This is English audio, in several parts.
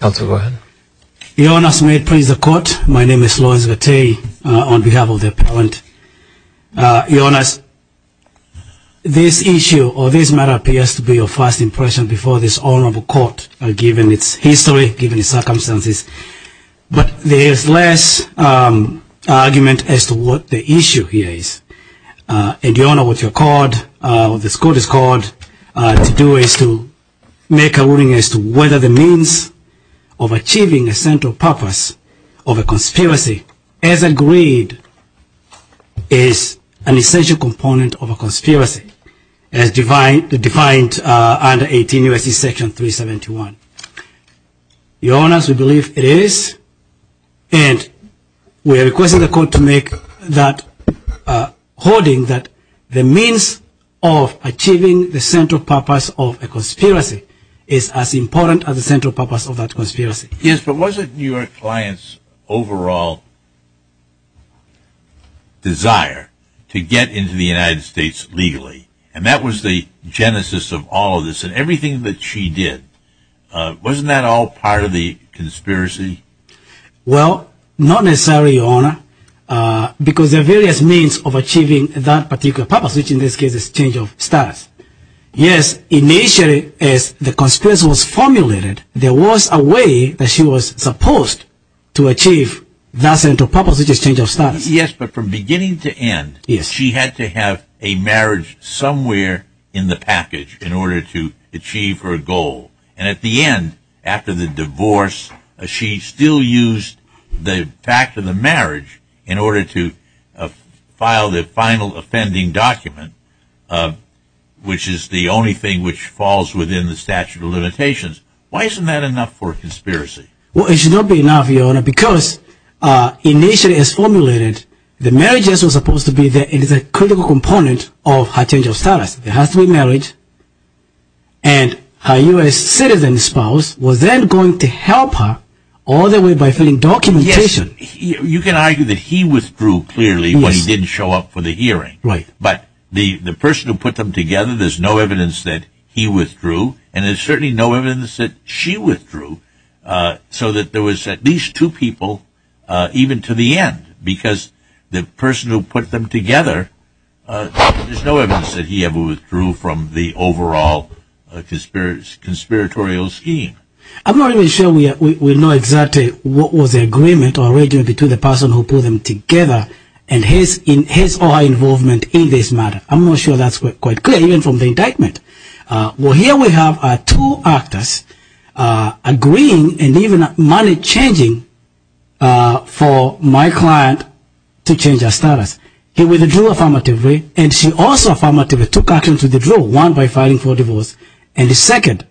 The Hon. Lawrence Gattei Your Honours, may it please the Court, my name is Lawrence Gattei on behalf of the Appellant. Your Honours, this issue or this matter appears to be your first impression before this Honourable Court, given its history, given its circumstances, but there is less argument as to what the issue here is. And Your Honour, what this Court has called to do is to make a ruling as to whether the means of achieving a central purpose of a conspiracy as agreed is an essential component of a conspiracy, as defined under 18 U.S.C. Section 371. Your Honours, we believe it is, and we are requesting the Court to make that holding that the means of achieving the central purpose of a conspiracy is as important as the central purpose of that conspiracy. Yes, but wasn't your client's overall desire to get into the United States legally, and that was the genesis of all of this, and everything that she did, wasn't that all part of the conspiracy? Well, not necessarily, Your Honour, because there are various means of achieving that particular purpose, which in this case is change of status. Yes, initially, as the conspiracy was formulated, there was a way that she was supposed to achieve that central purpose, which is change of status. Yes, but from beginning to end, she had to have a marriage somewhere in the package in order to achieve her goal. And at the end, after the divorce, she still used the fact of the marriage in order to file the final offending document, which is the only thing which falls within the statute of limitations. Why isn't that enough for a conspiracy? Well, it should not be enough, Your Honour, because initially, as formulated, the marriage was supposed to be the critical component of her change of status. It has to be marriage, and her U.S. citizen spouse was then going to help her all the way by filing documentation. Yes, you can argue that he withdrew clearly when he didn't show up for the hearing, but the person who put them together, there's no evidence that he withdrew, and there's certainly no evidence that she withdrew, so that there was at least two people, even to the end, because the person who put them together, there's no evidence that he ever withdrew from the overall conspiratorial scheme. I'm not even sure we know exactly what was the agreement or arrangement between the person who put them together and his or her involvement in this matter. I'm not sure that's quite clear, even from the indictment. Well, here we have two actors agreeing and even money-changing for my client to change her status. He withdrew affirmatively, and she also affirmatively took action to the draw, one by filing for divorce, and the second,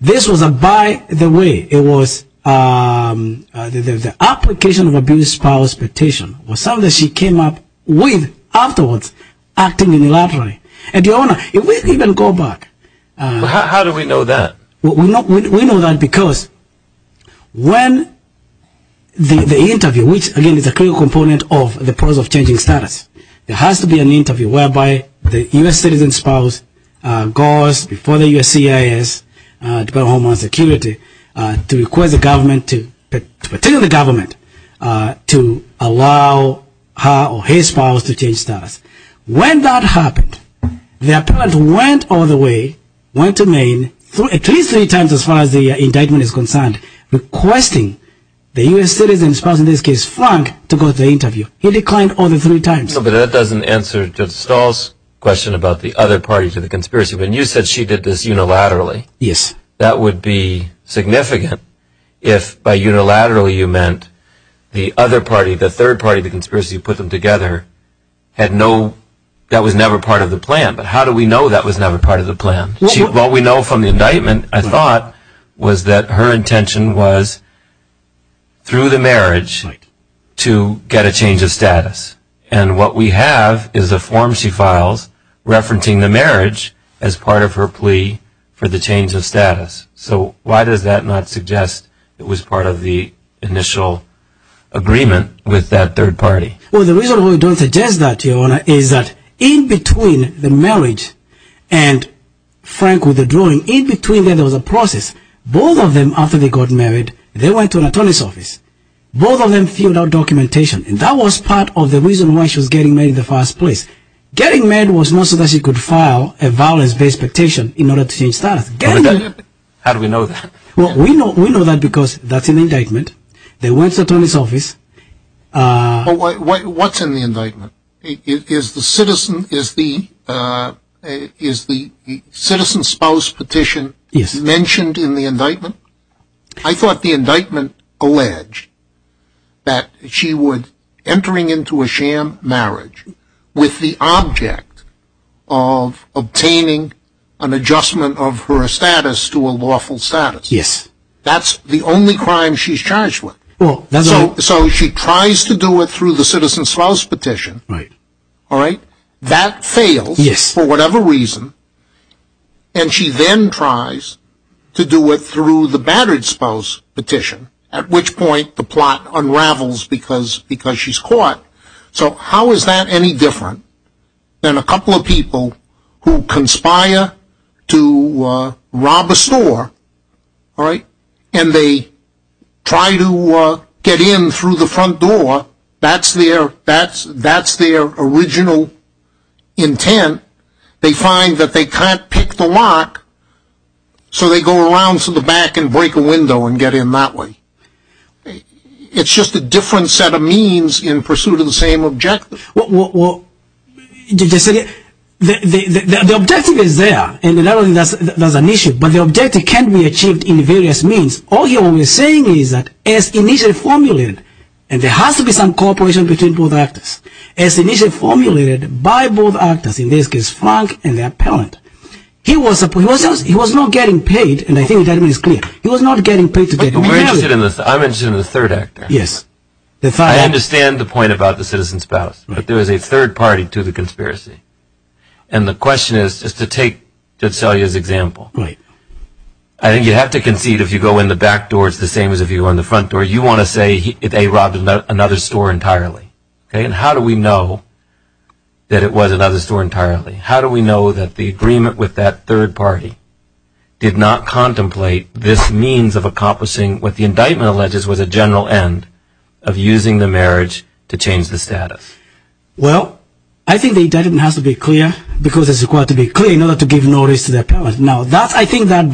this was by the way, it was the application of abuse spouse petition was something she came up with afterwards, acting unilaterally. How do we know that? The appellant went all the way, went to Maine, at least three times as far as the indictment is concerned, requesting the U.S. citizen's spouse, in this case, Frank, to go to the interview. He declined all the three times. No, but that doesn't answer Judge Stahl's question about the other party to the conspiracy. When you said she did this unilaterally, that would be significant if by unilaterally you meant the other party, the third party to the conspiracy who put them together, that was never part of the plan, but how do we know that was never part of the plan? What we know from the indictment, I thought, was that her intention was through the marriage to get a change of status, and what we have is a form she files referencing the marriage as part of her plea for the change of status, so why does that not suggest it was part of the initial agreement with that third party? Well, the reason we don't suggest that, Your Honor, is that in between the marriage and Frank with the drawing, in between there was a process. Both of them, after they got married, they went to an attorney's office. Both of them filled out documentation, and that was part of the reason why she was getting married in the first place. Getting married was not so that she could file a violence-based petition in order to change status. How do we know that? Well, we know that because that's in the indictment. They went to the attorney's office. What's in the indictment? Is the citizen spouse petition mentioned in the indictment? I thought the indictment alleged that she would, entering into a sham marriage, with the object of obtaining an adjustment of her status to a lawful status. Yes. That's the only crime she's charged with. Well, that's right. So she tries to do it through the citizen spouse petition. Right. Yes. And she then tries to do it through the battered spouse petition, at which point the plot unravels because she's caught. So how is that any different than a couple of people who conspire to rob a store, and they try to get in through the front door? That's their original intent. They find that they can't pick the lock, so they go around to the back and break a window and get in that way. It's just a different set of means in pursuit of the same objective. Well, the objective is there, and that's an issue, but the objective can be achieved in various means. All he was saying is that, as initially formulated, and there has to be some cooperation between both actors, as initially formulated by both actors, in this case Frank and the appellant, he was not getting paid, and I think the indictment is clear, he was not getting paid to get married. I'm interested in the third actor. Yes. I understand the point about the citizen spouse, but there is a third party to the conspiracy. And the question is, just to take Celia's example. Right. I think you have to concede, if you go in the back door, it's the same as if you were in the front door. You want to say they robbed another store entirely. And how do we know that it was another store entirely? How do we know that the agreement with that third party did not contemplate this means of accomplishing what the indictment alleges was a general end of using the marriage to change the status? Well, I think the indictment has to be clear, because it's required to be clear in order to give notice to the appellant. Now, I think that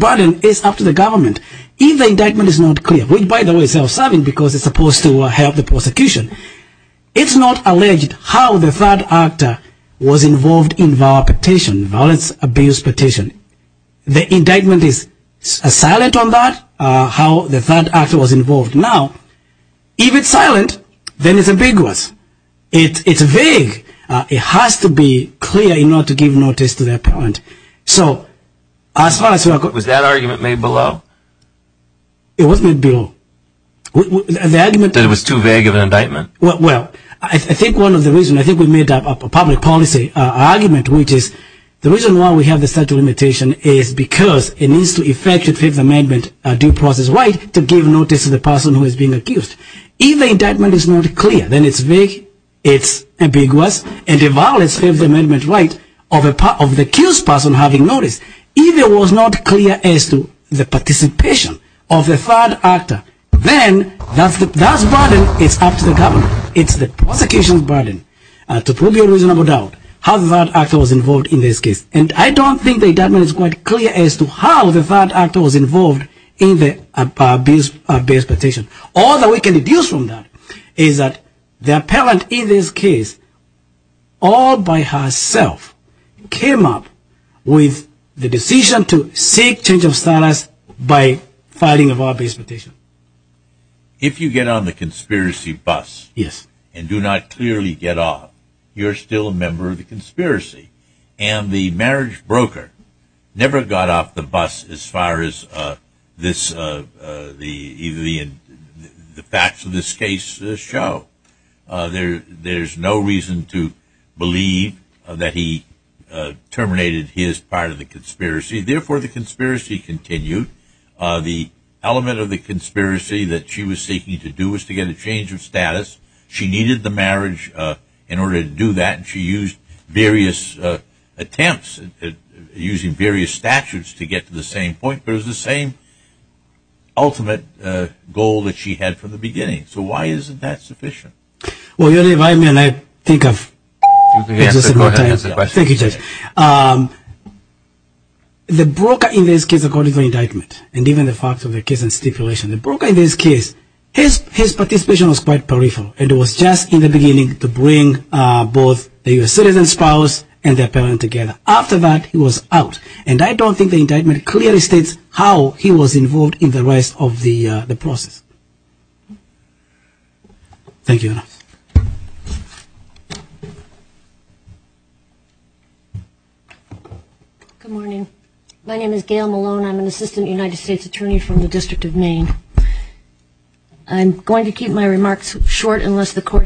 burden is up to the government. If the indictment is not clear, which by the way is self-serving because it's supposed to help the prosecution, it's not alleged how the third actor was involved in the violence abuse petition. The indictment is silent on that, how the third actor was involved. Now, if it's silent, then it's ambiguous. It's vague. It has to be clear in order to give notice to the appellant. So, as far as... Was that argument made below? It wasn't made below. The argument... That it was too vague of an indictment. Well, I think one of the reasons, I think we made up a public policy argument, which is the reason why we have the statute of limitation is because it needs to effectuate Fifth Amendment due process right to give notice to the person who is being accused. If the indictment is not clear, then it's vague, it's ambiguous, and it violates Fifth Amendment right of the accused person having notice. If it was not clear as to the participation of the third actor, then that burden is up to the government. It's the prosecution's burden to prove your reasonable doubt how the third actor was involved in this case. And I don't think the indictment is quite clear as to how the third actor was involved in the abuse petition. All that we can deduce from that is that the appellant in this case, all by herself, came up with the decision to seek change of status by filing a violence petition. If you get on the conspiracy bus and do not clearly get off, you're still a member of the conspiracy. And the marriage broker never got off the bus as far as the facts of this case show. There's no reason to believe that he terminated his part of the conspiracy. Therefore, the conspiracy continued. The element of the conspiracy that she was seeking to do was to get a change of status. She needed the marriage in order to do that, and she used various attempts, using various statutes to get to the same point. It was the same ultimate goal that she had from the beginning. So why isn't that sufficient? I'm going to keep my remarks short unless the court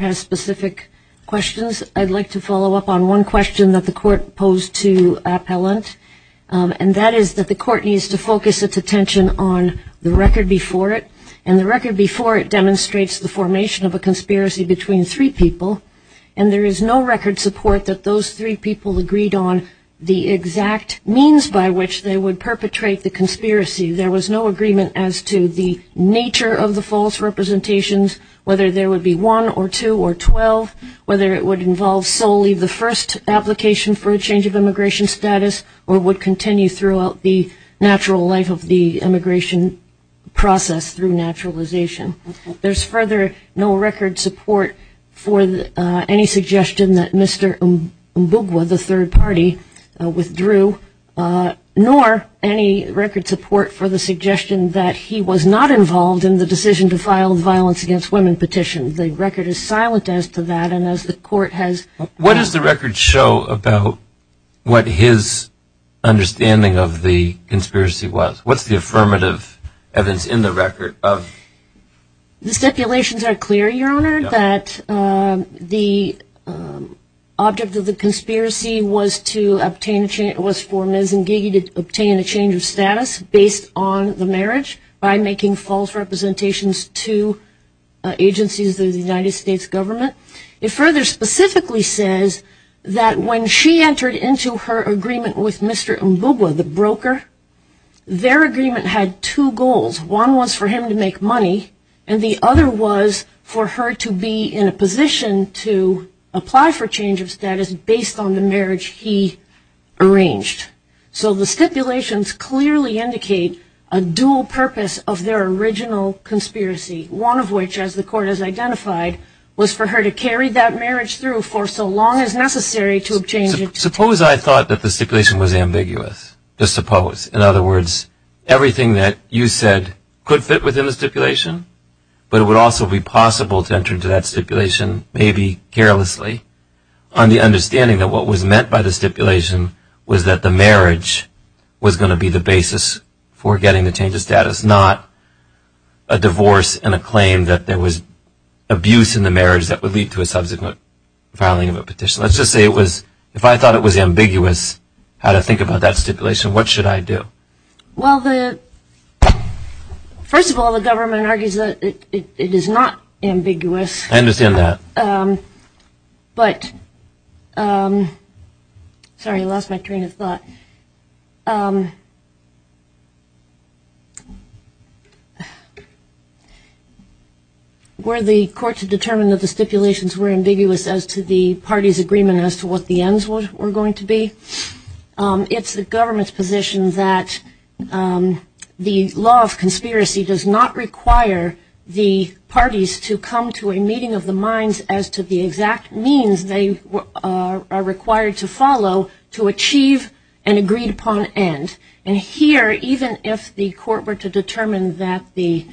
has specific questions. I'd like to follow up on one question that the court posed to appellant. And that is that the court needs to focus on the fact that the appellant is not a member of the conspiracy. And the record before it demonstrates the formation of a conspiracy between three people. And there is no record support that those three people agreed on the exact means by which they would perpetrate the conspiracy. There was no agreement as to the nature of the false representations, whether there would be one or two or 12, whether it would involve solely the first application for a change of immigration status, or would continue throughout the natural life of the immigration process through naturalization. There's further no record support for any suggestion that Mr. Mbugwa, the third party, withdrew, nor any record support for the suggestion that he was not involved in the decision to file the violence against women petition. The record is silent as to that and as the court has... The stipulations are clear, Your Honor, that the object of the conspiracy was for Ms. Ngegi to obtain a change of status based on the marriage by making false representations to agencies of the United States government. It further specifically says that when she entered into her agreement with Mr. Mbugwa, the broker, their agreement had two goals. One was for him to make money and the other was for her to be in a position to apply for change of status based on the marriage he arranged. So the stipulations clearly indicate a dual purpose of their original conspiracy, one of which, as the court has identified, was for her to carry that marriage through for so long as necessary to obtain... ...the marriage was going to be the basis for getting the change of status, not a divorce and a claim that there was abuse in the marriage that would lead to a subsequent filing of a petition. Let's just say it was, if I thought it was ambiguous how to think about that stipulation, what should I do? Well, first of all, the government argues that it is not ambiguous. I understand that. But, sorry, I lost my train of thought. Were the court to determine that the stipulations were ambiguous as to the party's agreement as to what the ends were going to be, it's the government's position that the law of conspiracy does not require the parties to come to a meeting of the minds as to the exact means they are required to follow to achieve an agreed upon end. And here, even if the court were to determine that the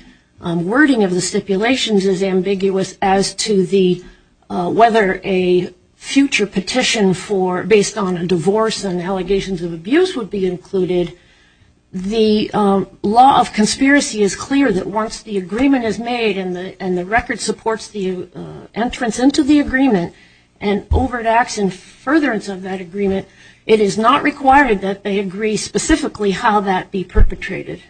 wording of the stipulations is ambiguous as to the, whether a future petition for, based on a divorce and allegations of abuse would be included, the law of conspiracy is clear that once the agreement is made and the record supports the entrance into the agreement and overacts in furtherance of that agreement, it is not required that they agree specifically to the end. Specifically, how that be perpetrated.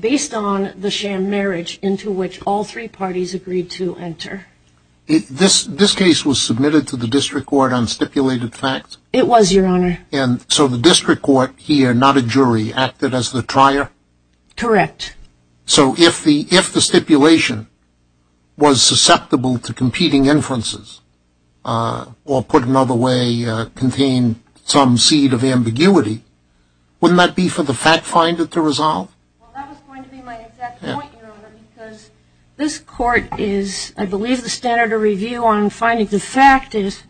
Based on the sham marriage into which all three parties agreed to enter. This case was submitted to the district court on stipulated facts? It was, Your Honor. And so the district court here, not a jury, acted as the trier? Correct. So if the stipulation was susceptible to competing inferences, or put another way, contained some seed of ambiguity, wouldn't that be for the fact finder to resolve? Well, that was going to be my exact point, Your Honor, because this court is, I believe the standard of review on finding the fact is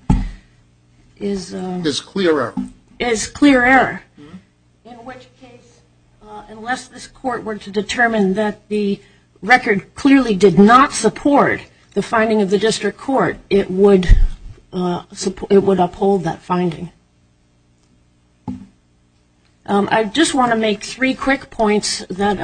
clear error. Is clear error. In which case, unless this court were to determine that the record clearly did not support the finding of the district court, it would uphold that finding. I just want to make three quick points that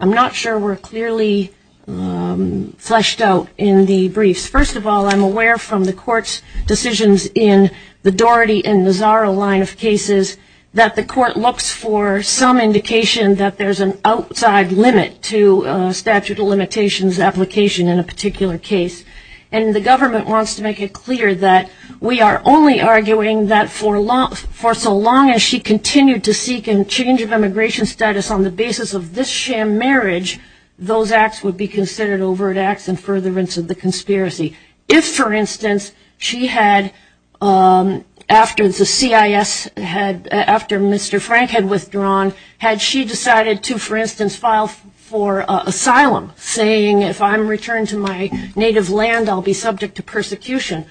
I'm not sure were clearly fleshed out in the briefs. First of all, I'm aware from the court's decisions in the Doherty and Nazaro line of cases that the court looks for some indication that there's an outside limit to statute of limitations application in a particular case. And the government wants to make it clear that we are only arguing that for so long as she continued to seek a change of immigration status on the basis of this sham marriage, those acts would be considered overt acts in furtherance of the conspiracy. If, for instance, she had, after the CIS, after Mr. Frank had withdrawn, had she decided to, for instance, file for asylum, saying if I'm returned to my native land, I'll be subject to persecution,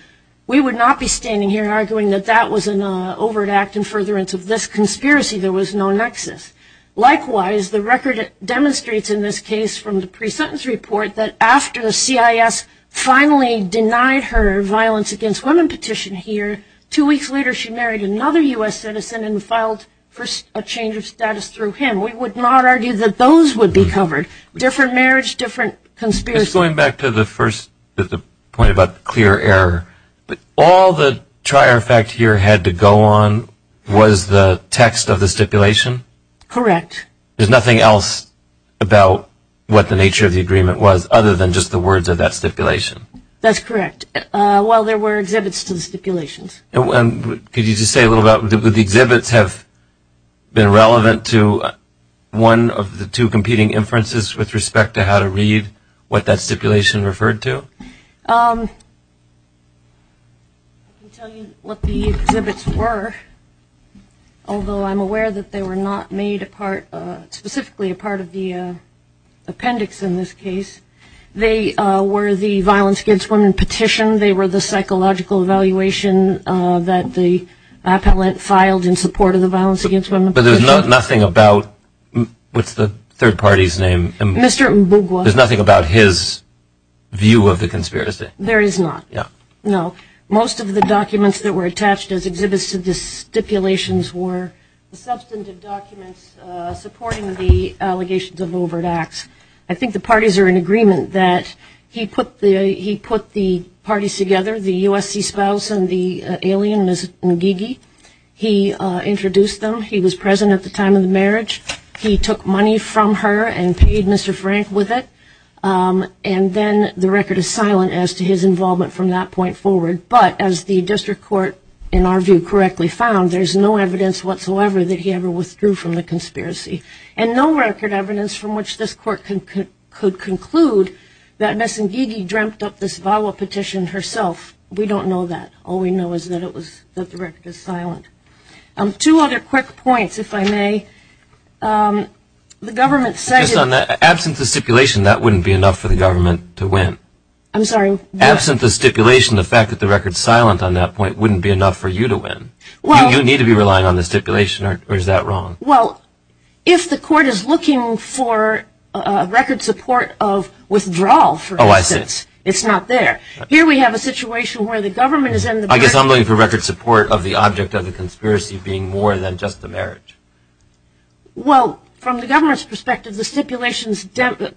we would not be standing here arguing that that was an overt act in furtherance of this conspiracy. There was no nexus. Likewise, the record demonstrates in this case from the pre-sentence report that after the CIS finally denied her violence against women petition here, two weeks later she married another U.S. citizen and filed for a change of status through him. We would not argue that those would be covered. Different marriage, different conspiracy. Just going back to the first point about clear error, all the trier fact here had to go on was the text of the stipulation? Correct. There's nothing else about what the nature of the agreement was other than just the words of that stipulation? That's correct. Well, there were exhibits to the stipulations. Could you just say a little about, would the exhibits have been relevant to one of the two competing inferences with respect to how to read what that stipulation referred to? I can tell you what the exhibits were, although I'm aware that they were not made a part, specifically a part of the appendix in this case. They were the violence against women petition. They were the psychological evaluation that the appellate filed in support of the violence against women petition. But there's nothing about, what's the third party's name? Mr. Mbugwa. There's nothing about his view of the conspiracy? There is not. No. Most of the documents that were attached as exhibits to the stipulations were substantive documents supporting the allegations of overt acts. I think the parties are in agreement that he put the parties together, the USC spouse and the alien, Ms. Nguigi. He introduced them. He was present at the time of the marriage. He took money from her and paid Mr. Frank with it. And then the record is silent as to his involvement from that point forward. But as the district court, in our view, correctly found, there's no evidence whatsoever that he ever withdrew from the conspiracy. And no record evidence from which this court could conclude that Ms. Nguigi dreamt up this VAWA petition herself. We don't know that. All we know is that it was, that the record is silent. Two other quick points, if I may. The government said. Just on that, absent the stipulation, that wouldn't be enough for the government to win. I'm sorry. Absent the stipulation, the fact that the record's silent on that point wouldn't be enough for you to win. Well. You need to be relying on the stipulation, or is that wrong? Well, if the court is looking for record support of withdrawal, for instance. Oh, I see. It's not there. Here we have a situation where the government is in the back. I guess I'm looking for record support of the object of the conspiracy being more than just the marriage. Well, from the government's perspective, the stipulations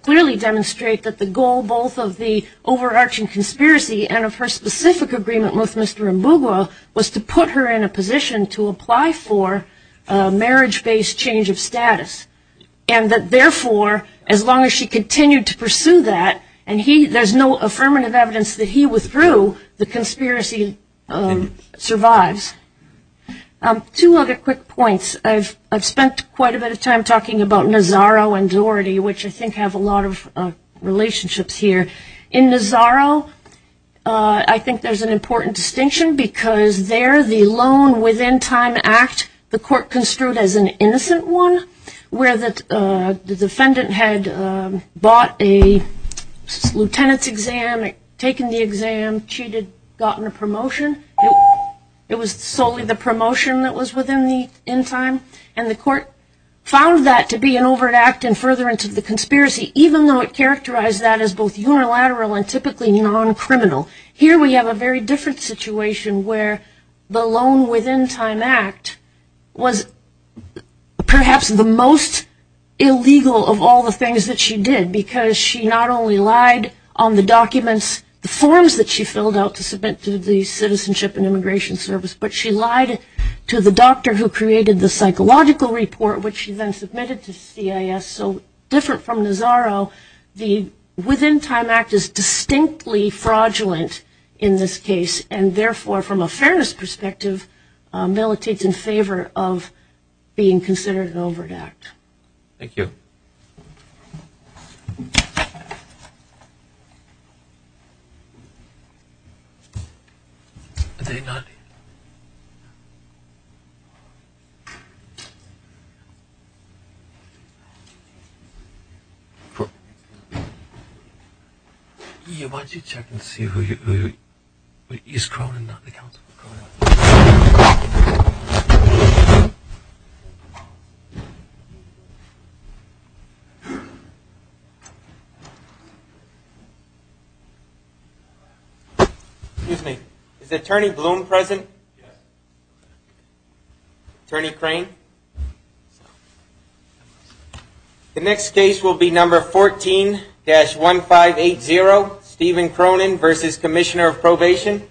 clearly demonstrate that the goal both of the overarching conspiracy and of her specific agreement with Mr. Mbugwa was to put her in a position to apply for a marriage-based change of status, and that, therefore, as long as she continued to pursue that and there's no affirmative evidence that he withdrew, the conspiracy survives. Two other quick points. I've spent quite a bit of time talking about Nazaro and Doherty, which I think have a lot of relationships here. In Nazaro, I think there's an important distinction because there the Loan Within Time Act, the court construed as an innocent one where the defendant had bought a lieutenant's exam, taken the exam, cheated, gotten a promotion. It was solely the promotion that was within the end time, and the court found that to be an overt act in furtherance of the conspiracy, even though it characterized that as both unilateral and typically non-criminal. Here we have a very different situation where the Loan Within Time Act was perhaps the most illegal of all the things that she did because she not only lied on the documents, the forms that she filled out to submit to the Citizenship and Immigration Service, but she lied to the doctor who created the psychological report, which she then submitted to CIS. So different from Nazaro, the Within Time Act is distinctly fraudulent in this case, and therefore from a fairness perspective militates in favor of being considered an overt act. Thank you. Thank you. Thank you. Is Cronin not on the counsel? Excuse me. Is Attorney Bloom present? Attorney Crane? The next case will be number 14-1580, Stephen Cronin v. Commissioner of Probation. Thank you.